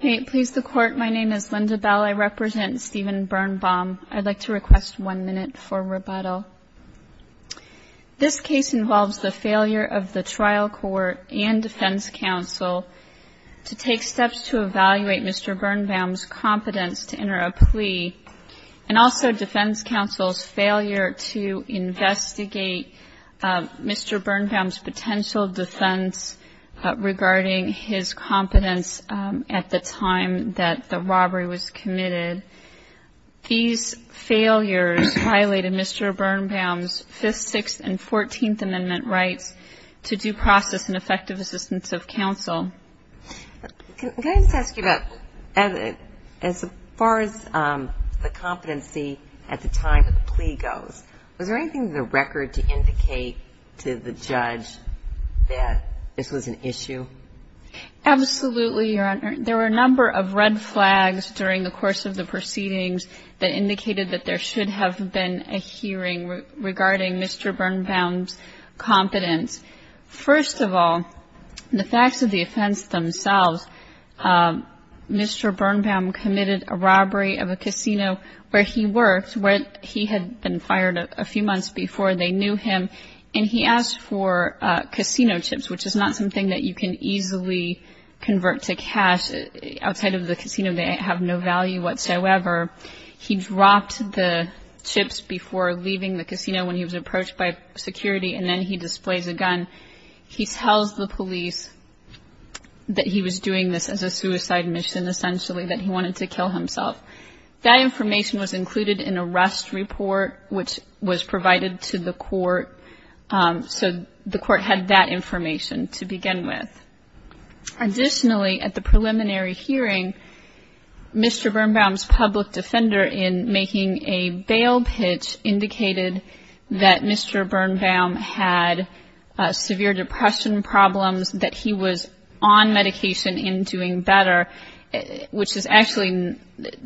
This case involves the failure of the trial court and defense counsel to take steps to evaluate Mr. Bernbaum's competence to enter a plea and also defense counsel's failure to investigate Mr. Bernbaum's potential defense regarding his competence at the time that the robbery was committed. These failures violated Mr. Bernbaum's 5th, 6th, and 14th amendment rights to due process and effective assistance of counsel. Can I just ask you about, as far as the competency at the time of the plea goes, was there anything in the record to indicate to the judge that this was an issue? Absolutely, Your Honor. There were a number of red flags during the course of the proceedings that indicated that there should have been a hearing regarding Mr. Bernbaum's competence. First of all, the facts of the offense themselves, Mr. Bernbaum committed a robbery of a casino where he worked, where he had been fired a few months before they knew him, and he asked for casino chips, which is not something that you can easily convert to cash. Outside of the casino, they have no value whatsoever. He dropped the chips before leaving the casino when he was approached by security, and then he displays a gun. He tells the police that he was doing this as a suicide mission, essentially, that he wanted to kill himself. That information was included in a rest report, which was provided to the court, so the court had that information to begin with. Additionally, at the preliminary hearing, Mr. Bernbaum's public defender, in making a bail pitch, indicated that Mr. Bernbaum had severe depression problems, that he was on medication and doing better, which is actually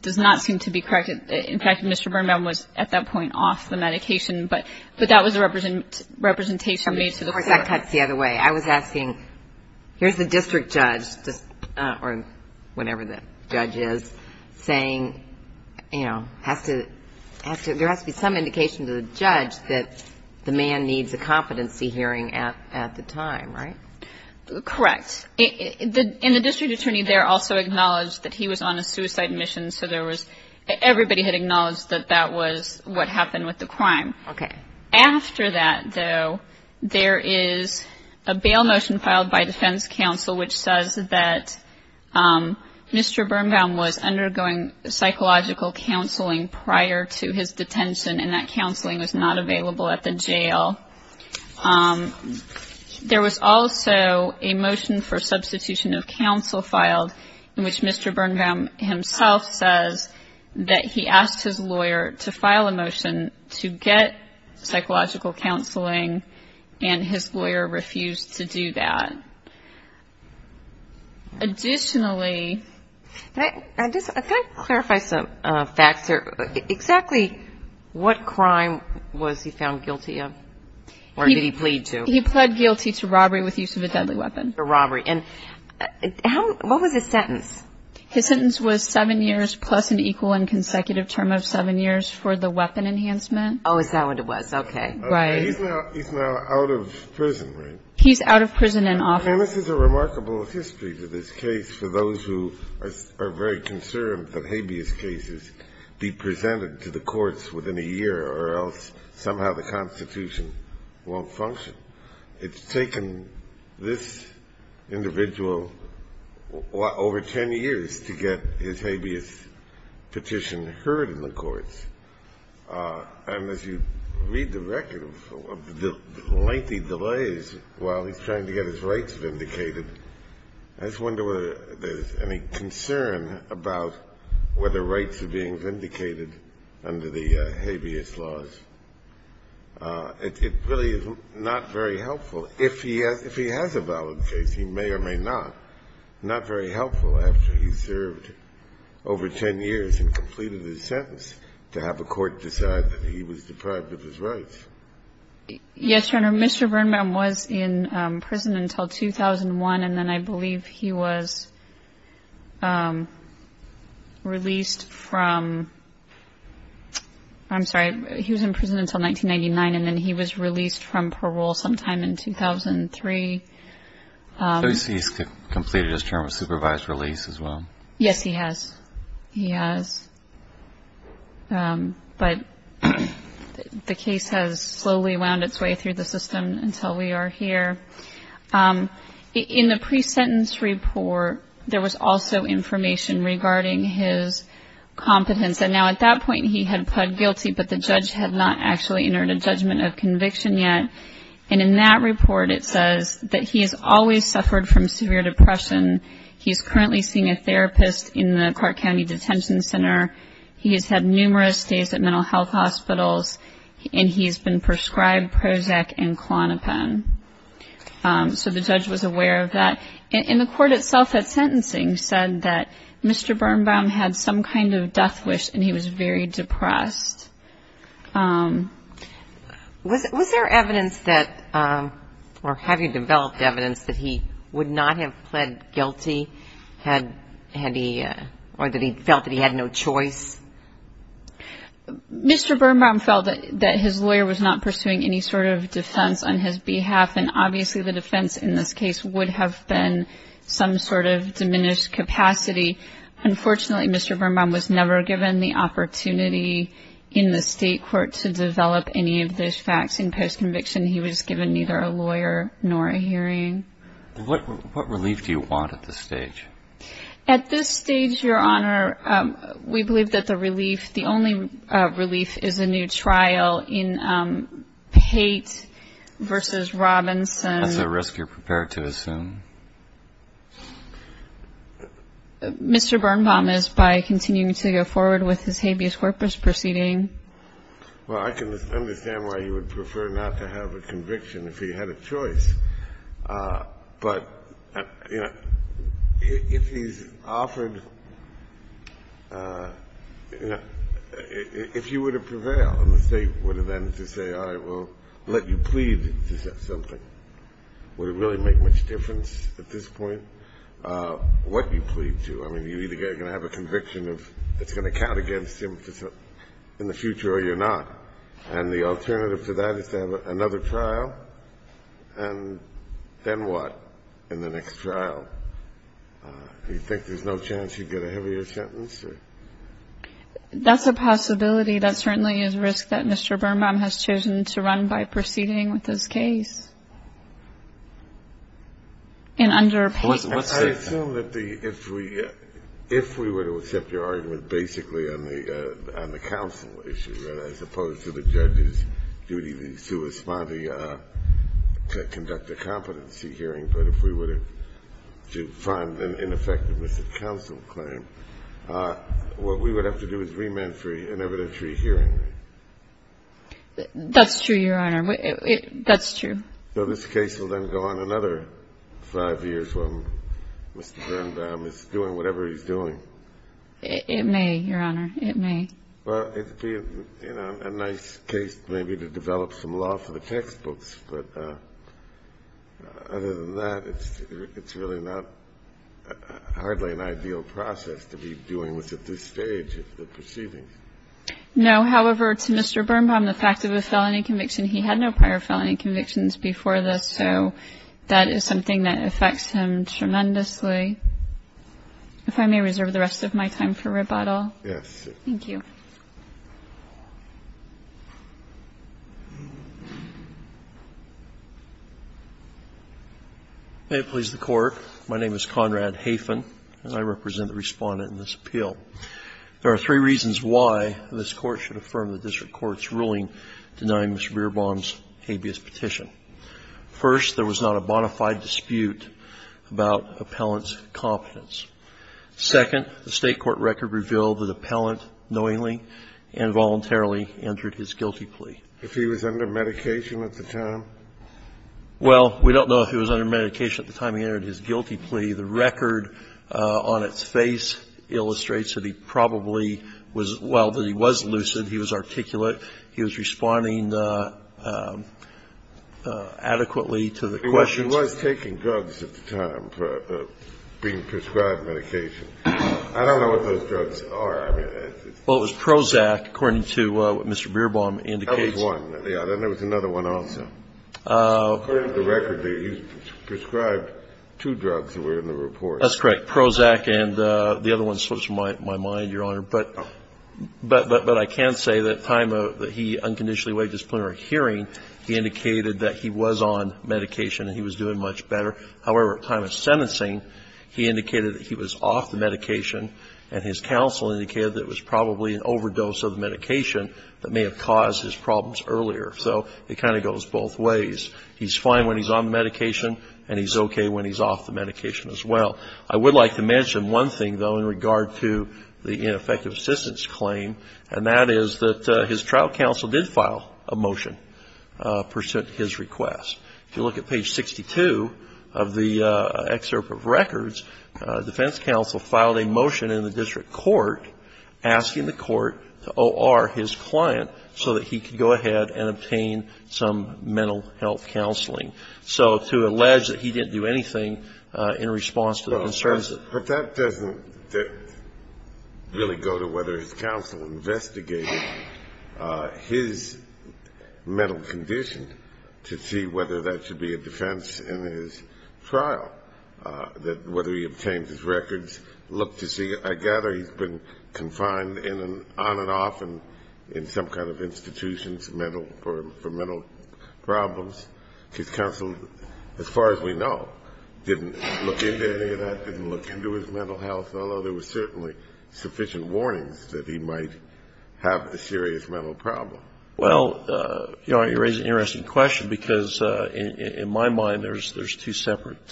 does not seem to be correct. In fact, Mr. Bernbaum was, at that point, off the medication, but that was a representation made to the court. I guess that cuts the other way. I was asking, here's the district judge, or whatever the judge is, saying, you know, there has to be some indication to the judge that the man needs a competency hearing at the time, right? Correct. And the district attorney there also acknowledged that he was on a suicide mission, so everybody had acknowledged that that was what happened with the crime. After that, though, there is a bail motion filed by defense counsel, which says that Mr. Bernbaum was undergoing psychological counseling prior to his detention, and that counseling was not available at the jail. There was also a motion for substitution of counsel filed, in which Mr. Bernbaum himself says that he asked his lawyer to file a motion to get psychological counseling, and his lawyer refused to do that. Additionally — Or did he plead to? He pled guilty to robbery with use of a deadly weapon. A robbery. And how — what was his sentence? His sentence was seven years plus an equal and consecutive term of seven years for the weapon enhancement. Oh, is that what it was? Okay. Right. He's now out of prison, right? He's out of prison and off. And this is a remarkable history to this case for those who are very concerned that habeas cases be presented to the courts within a year, or else somehow the Constitution won't function. It's taken this individual over 10 years to get his habeas petition heard in the courts. And as you read the record of the lengthy delays while he's trying to get his rights vindicated, I just wonder whether there's any concern about whether rights are being vindicated under the habeas laws. It really is not very helpful. If he has a valid case, he may or may not. Not very helpful after he served over 10 years and completed his sentence to have a court decide that he was deprived of his rights. Yes, Your Honor. Mr. Birnbaum was in prison until 2001, and then I believe he was released from — I'm sorry. He was in prison until 1999, and then he was released from parole sometime in 2003. So he's completed his term of supervised release as well? Yes, he has. He has. But the case has slowly wound its way through the system until we are here. In the pre-sentence report, there was also information regarding his competence. Now, at that point, he had pled guilty, but the judge had not actually entered a judgment of conviction yet. And in that report, it says that he has always suffered from severe depression. He's currently seeing a therapist in the Clark County Detention Center. He has had numerous days at mental health hospitals, and he's been prescribed Prozac and Klonopin. So the judge was aware of that. And the court itself at sentencing said that Mr. Birnbaum had some kind of death wish, and he was very depressed. Was there evidence that — or have you developed evidence that he would not have pled guilty? Had he — or that he felt that he had no choice? Mr. Birnbaum felt that his lawyer was not pursuing any sort of defense on his behalf, and obviously the defense in this case would have been some sort of diminished capacity. Unfortunately, Mr. Birnbaum was never given the opportunity in the state court to develop any of those facts. In post-conviction, he was given neither a lawyer nor a hearing. What relief do you want at this stage? At this stage, Your Honor, we believe that the relief — Well, I can understand why you would prefer not to have a conviction if he had a choice, but, you know, if he's offered — I mean, if you were to prevail and the state would have ended to say, all right, we'll let you plead to something, would it really make much difference at this point what you plead to? I mean, you're either going to have a conviction of — it's going to count against him in the future or you're not. And the alternative to that is to have another trial, and then what in the next trial? Do you think there's no chance he'd get a heavier sentence? That's a possibility. That certainly is a risk that Mr. Birnbaum has chosen to run by proceeding with this case. And under — I assume that the — if we — if we were to accept your argument basically on the counsel issue, as opposed to the judge's duty to respond to conduct a competency hearing, but if we were to find an ineffectiveness at counsel claim, what we would have to do is remand for an evidentiary hearing. That's true, Your Honor. That's true. So this case will then go on another five years while Mr. Birnbaum is doing whatever he's doing. It may, Your Honor. It may. Well, it'd be a nice case maybe to develop some law for the textbooks, but other than that, it's really not hardly an ideal process to be doing this at this stage of the proceedings. No. However, to Mr. Birnbaum, the fact of a felony conviction, he had no prior felony convictions before this, so that is something that affects him tremendously. If I may reserve the rest of my time for rebuttal. Yes. Thank you. May it please the Court. My name is Conrad Hafen, and I represent the Respondent in this appeal. There are three reasons why this Court should affirm the district court's ruling denying Mr. Birnbaum's habeas petition. First, there was not a bona fide dispute about appellant's competence. Second, the state court record revealed that appellant knowingly and voluntarily entered his guilty plea. If he was under medication at the time? Well, we don't know if he was under medication at the time he entered his guilty plea. The record on its face illustrates that he probably was – well, that he was lucid. He was articulate. He was responding adequately to the questions. He was taking drugs at the time, being prescribed medication. I don't know what those drugs are. Well, it was Prozac, according to what Mr. Birnbaum indicates. That was one. Then there was another one also. According to the record, he was prescribed two drugs that were in the report. That's correct. Prozac and the other one slips from my mind, Your Honor. But I can say that at the time that he unconditionally waived his plenary hearing, he indicated that he was on medication and he was doing much better. However, at time of sentencing, he indicated that he was off the medication and his counsel indicated that it was probably an overdose of the medication that may have caused his problems earlier. So it kind of goes both ways. He's fine when he's on medication and he's okay when he's off the medication as well. I would like to mention one thing, though, in regard to the ineffective assistance claim, and that is that his trial counsel did file a motion. If you look at page 62 of the excerpt of records, defense counsel filed a motion in the district court asking the court to O.R. his client so that he could go ahead and obtain some mental health counseling. So to allege that he didn't do anything in response to the concerns that he had. But that doesn't really go to whether his counsel investigated his mental health and mental condition to see whether that should be a defense in his trial, that whether he obtained his records. Look to see. I gather he's been confined on and off in some kind of institutions for mental problems. His counsel, as far as we know, didn't look into any of that, didn't look into his mental health, although there were certainly sufficient warnings that he might have a serious mental problem. Well, you know, you raise an interesting question, because in my mind there's two separate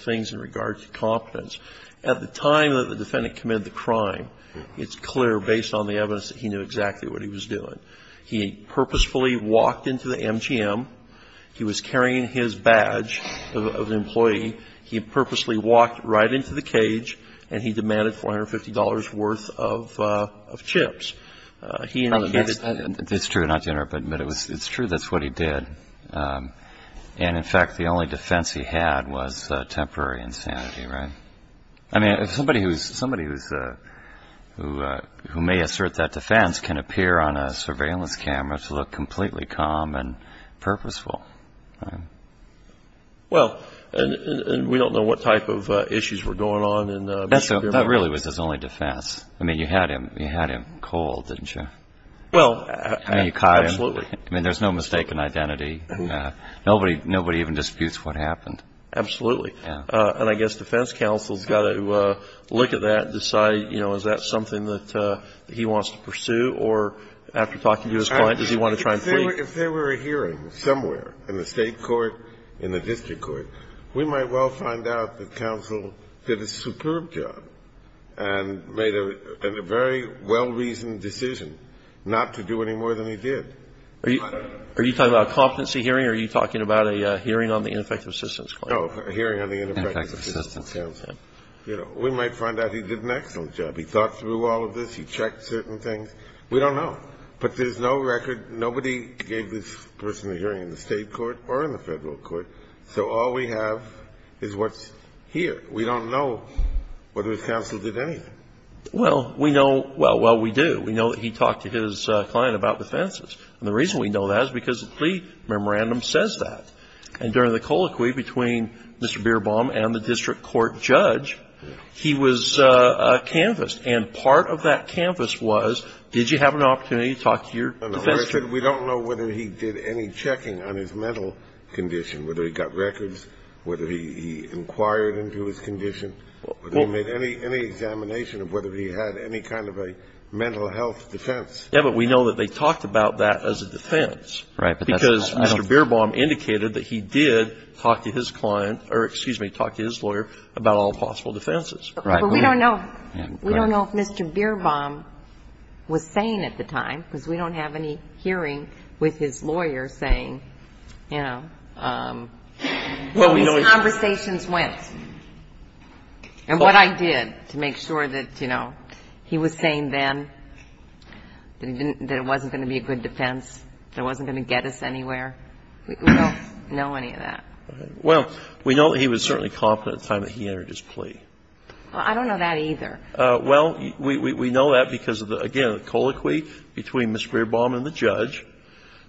things in regard to competence. At the time that the defendant committed the crime, it's clear, based on the evidence, that he knew exactly what he was doing. He purposefully walked into the MGM, he was carrying his badge of an employee, he purposely walked right into the cage, and he demanded $450 worth of chips. It's true, not to interrupt, but it's true that's what he did. And, in fact, the only defense he had was temporary insanity, right? I mean, somebody who may assert that defense can appear on a surveillance camera to look completely calm and purposeful, right? Well, and we don't know what type of issues were going on in MGM. That really was his only defense. I mean, you had him cold, didn't you? Well, absolutely. I mean, there's no mistaken identity. Nobody even disputes what happened. Absolutely. And I guess defense counsel has got to look at that and decide, you know, is that something that he wants to pursue, or after talking to his client, does he want to try and flee? If there were a hearing somewhere in the state court, in the district court, we might well find out that counsel did a superb job and made a very well-reasoned decision not to do any more than he did. Are you talking about a competency hearing, or are you talking about a hearing on the ineffective assistance claim? No, a hearing on the ineffective assistance. You know, we might find out he did an excellent job. He thought through all of this. He checked certain things. We don't know. But there's no record. Nobody gave this person a hearing in the state court or in the federal court. So all we have is what's here. We don't know whether his counsel did anything. Well, we know. Well, we do. We know that he talked to his client about defenses. And the reason we know that is because the plea memorandum says that. And during the colloquy between Mr. Bierbaum and the district court judge, he was canvassed. And part of that canvass was, did you have an opportunity to talk to your defense attorney? We don't know whether he did any checking on his mental condition, whether he got records, whether he inquired into his condition, whether he made any examination of whether he had any kind of a mental health defense. Yeah, but we know that they talked about that as a defense. Right. Because Mr. Bierbaum indicated that he did talk to his client or, excuse me, talk to his lawyer about all possible defenses. Right. But we don't know if Mr. Bierbaum was sane at the time, because we don't have any hearing with his lawyer saying, you know, what his conversations went. And what I did to make sure that, you know, he was sane then, that it wasn't going to be a good defense, that it wasn't going to get us anywhere. We don't know any of that. Well, we know that he was certainly confident at the time that he entered his plea. I don't know that either. Well, we know that because of the, again, the colloquy between Mr. Bierbaum and the judge.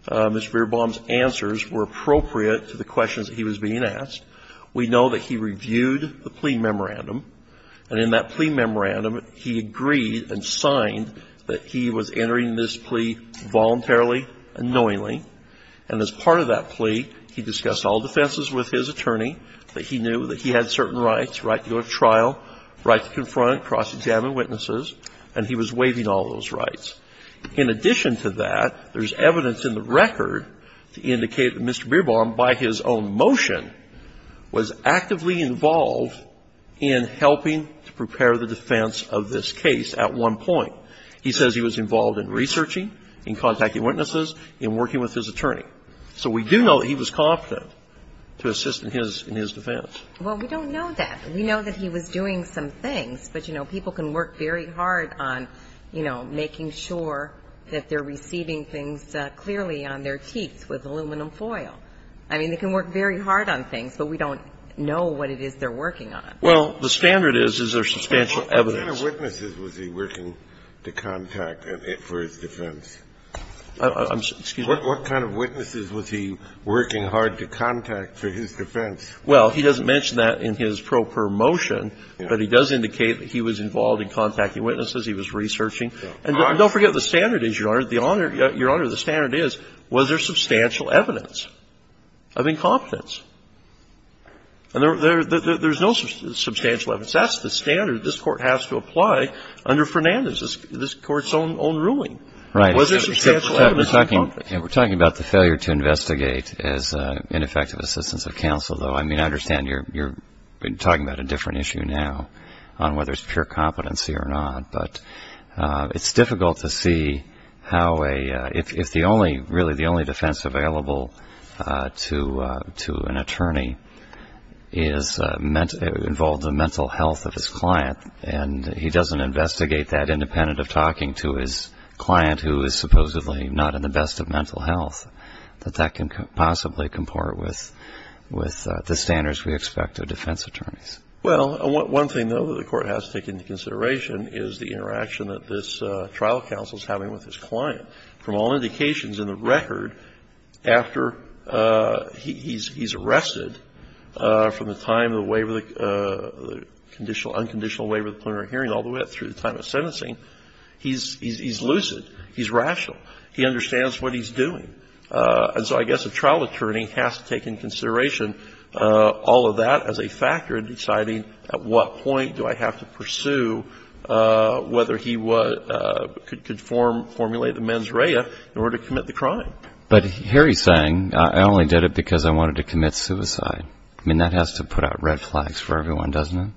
Mr. Bierbaum's answers were appropriate to the questions that he was being asked. We know that he reviewed the plea memorandum, and in that plea memorandum, he agreed and signed that he was entering this plea voluntarily and knowingly. And as part of that plea, he discussed all defenses with his attorney, that he knew that he had certain rights, right to go to trial, right to confront, cross-examine witnesses, and he was waiving all those rights. In addition to that, there's evidence in the record to indicate that Mr. Bierbaum, by his own motion, was actively involved in helping to prepare the defense of this case at one point. He says he was involved in researching, in contacting witnesses, in working with his attorney. So we do know that he was confident to assist in his defense. Well, we don't know that. We know that he was doing some things, but, you know, people can work very hard on, you know, making sure that they're receiving things clearly on their teeth with aluminum foil. I mean, they can work very hard on things, but we don't know what it is they're working on. Well, the standard is, is there substantial evidence. What kind of witnesses was he working to contact for his defense? Excuse me? What kind of witnesses was he working hard to contact for his defense? Well, he doesn't mention that in his pro per motion, but he does indicate that he was involved in contacting witnesses, he was researching. And don't forget, the standard is, Your Honor, the honor, Your Honor, the standard is, was there substantial evidence of incompetence? And there's no substantial evidence. That's the standard. This court has to apply under Fernandez's, this court's own ruling. Right. Was there substantial evidence of incompetence? We're talking about the failure to investigate as ineffective assistance of counsel, though. I mean, I understand you're talking about a different issue now on whether it's pure competency or not. But it's difficult to see how a, if the only, really the only defense available to an attorney is involved in the mental health of his client, and he doesn't investigate that independent of talking to his client who is supposedly not in the best of mental health, that that can possibly comport with the standards we expect of defense attorneys. Well, one thing, though, that the Court has to take into consideration is the interaction that this trial counsel is having with his client. From all indications in the record, after he's arrested, from the time of the waiver of the conditional, unconditional waiver of the plenary hearing all the way up through the time of sentencing, he's lucid. He's rational. He understands what he's doing. And so I guess a trial attorney has to take into consideration all of that as a factor in deciding at what point do I have to pursue whether he could form, formulate a mens rea in order to commit the crime. But here he's saying, I only did it because I wanted to commit suicide. I mean, that has to put out red flags for everyone, doesn't it?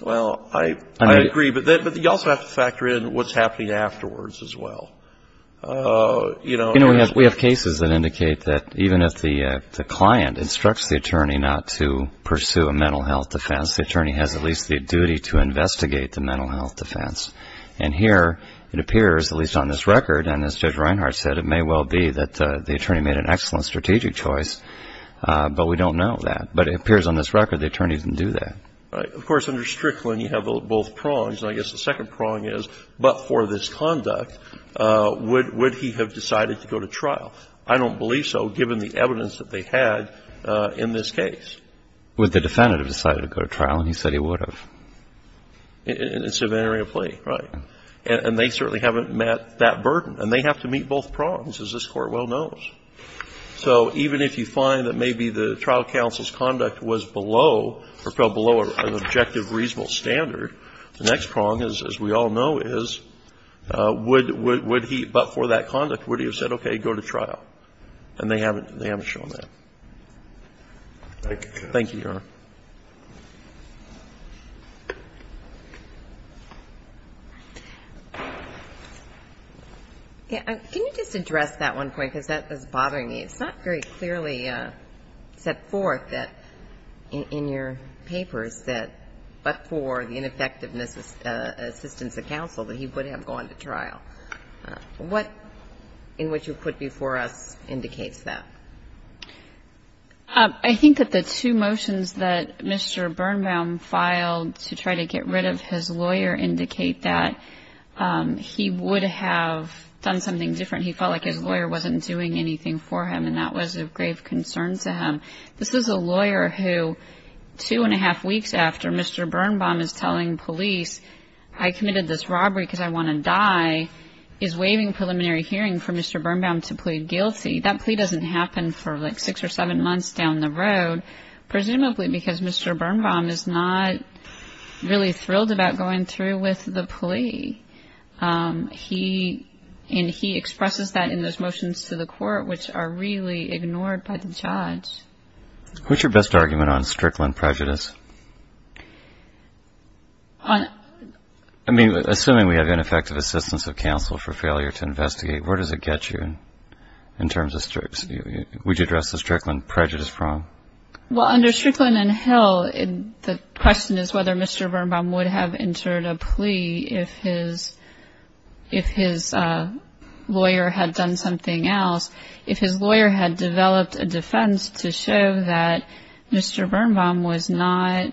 Well, I agree. But you also have to factor in what's happening afterwards as well. You know, we have cases that indicate that even if the client instructs the attorney not to pursue a mental health defense, the attorney has at least the duty to investigate the mental health defense. And here it appears, at least on this record, and as Judge Reinhart said, it may well be that the attorney made an excellent strategic choice. But we don't know that. But it appears on this record the attorney didn't do that. Right. Of course, under Strickland you have both prongs. And I guess the second prong is, but for this conduct, would he have decided to go to trial? I don't believe so, given the evidence that they had in this case. Would the defendant have decided to go to trial? And he said he would have. It's an area of plea, right? And they certainly haven't met that burden. And they have to meet both prongs, as this Court well knows. So even if you find that maybe the trial counsel's conduct was below or fell below an objective reasonable standard, the next prong is, as we all know, is would he, but for that conduct, would he have said, okay, go to trial? And they haven't shown that. Thank you, Your Honor. Can you just address that one point, because that was bothering me? It's not very clearly set forth in your papers that, but for the ineffectiveness of assistance of counsel, that he would have gone to trial. What in what you put before us indicates that? I think that the two motions that Mr. Birnbaum filed to try to get rid of his lawyer indicate that he would have done something different. He felt like his lawyer wasn't doing anything for him, and that was of grave concern to him. This is a lawyer who, two and a half weeks after Mr. Birnbaum is telling police, I committed this robbery because I want to die, is waiving preliminary hearing for Mr. Birnbaum to plead guilty. That plea doesn't happen for like six or seven months down the road, presumably because Mr. Birnbaum is not really thrilled about going through with the plea. And he expresses that in those motions to the court, which are really ignored by the judge. What's your best argument on Strickland prejudice? I mean, assuming we have ineffective assistance of counsel for failure to investigate, where does it get you in terms of Strickland prejudice? Well, under Strickland and Hill, the question is whether Mr. Birnbaum would have entered a plea if his lawyer had done something else. If his lawyer had developed a defense to show that Mr. Birnbaum was not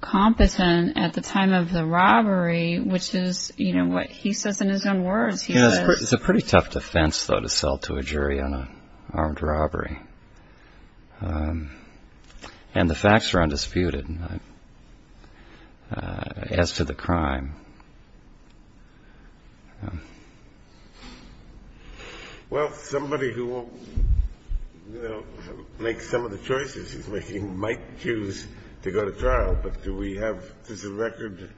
competent at the time of the robbery, which is what he says in his own words. It's a pretty tough defense, though, to sell to a jury on an armed robbery. And the facts are undisputed as to the crime. Well, somebody who will make some of the choices he's making might choose to go to trial, but do we have the record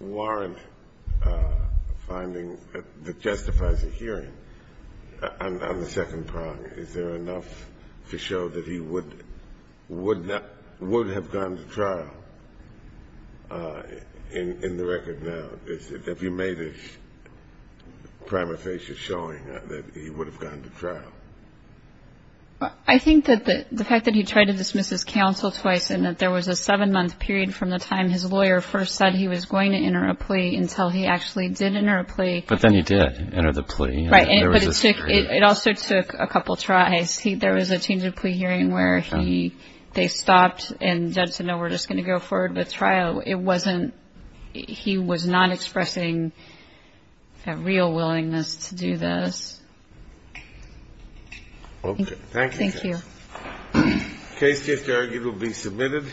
warrant finding that justifies a hearing on the second prong? Is there enough to show that he would have gone to trial in the record now? Have you made a prima facie showing that he would have gone to trial? I think that the fact that he tried to dismiss his counsel twice and that there was a seven-month period from the time his lawyer first said he was going to enter a plea until he actually did enter a plea. But then he did enter the plea. Right, but it also took a couple tries. There was a change of plea hearing where they stopped and the judge said, no, we're just going to go forward with trial. So it wasn't he was not expressing a real willingness to do this. Okay, thank you. Thank you. Case just argued will be submitted.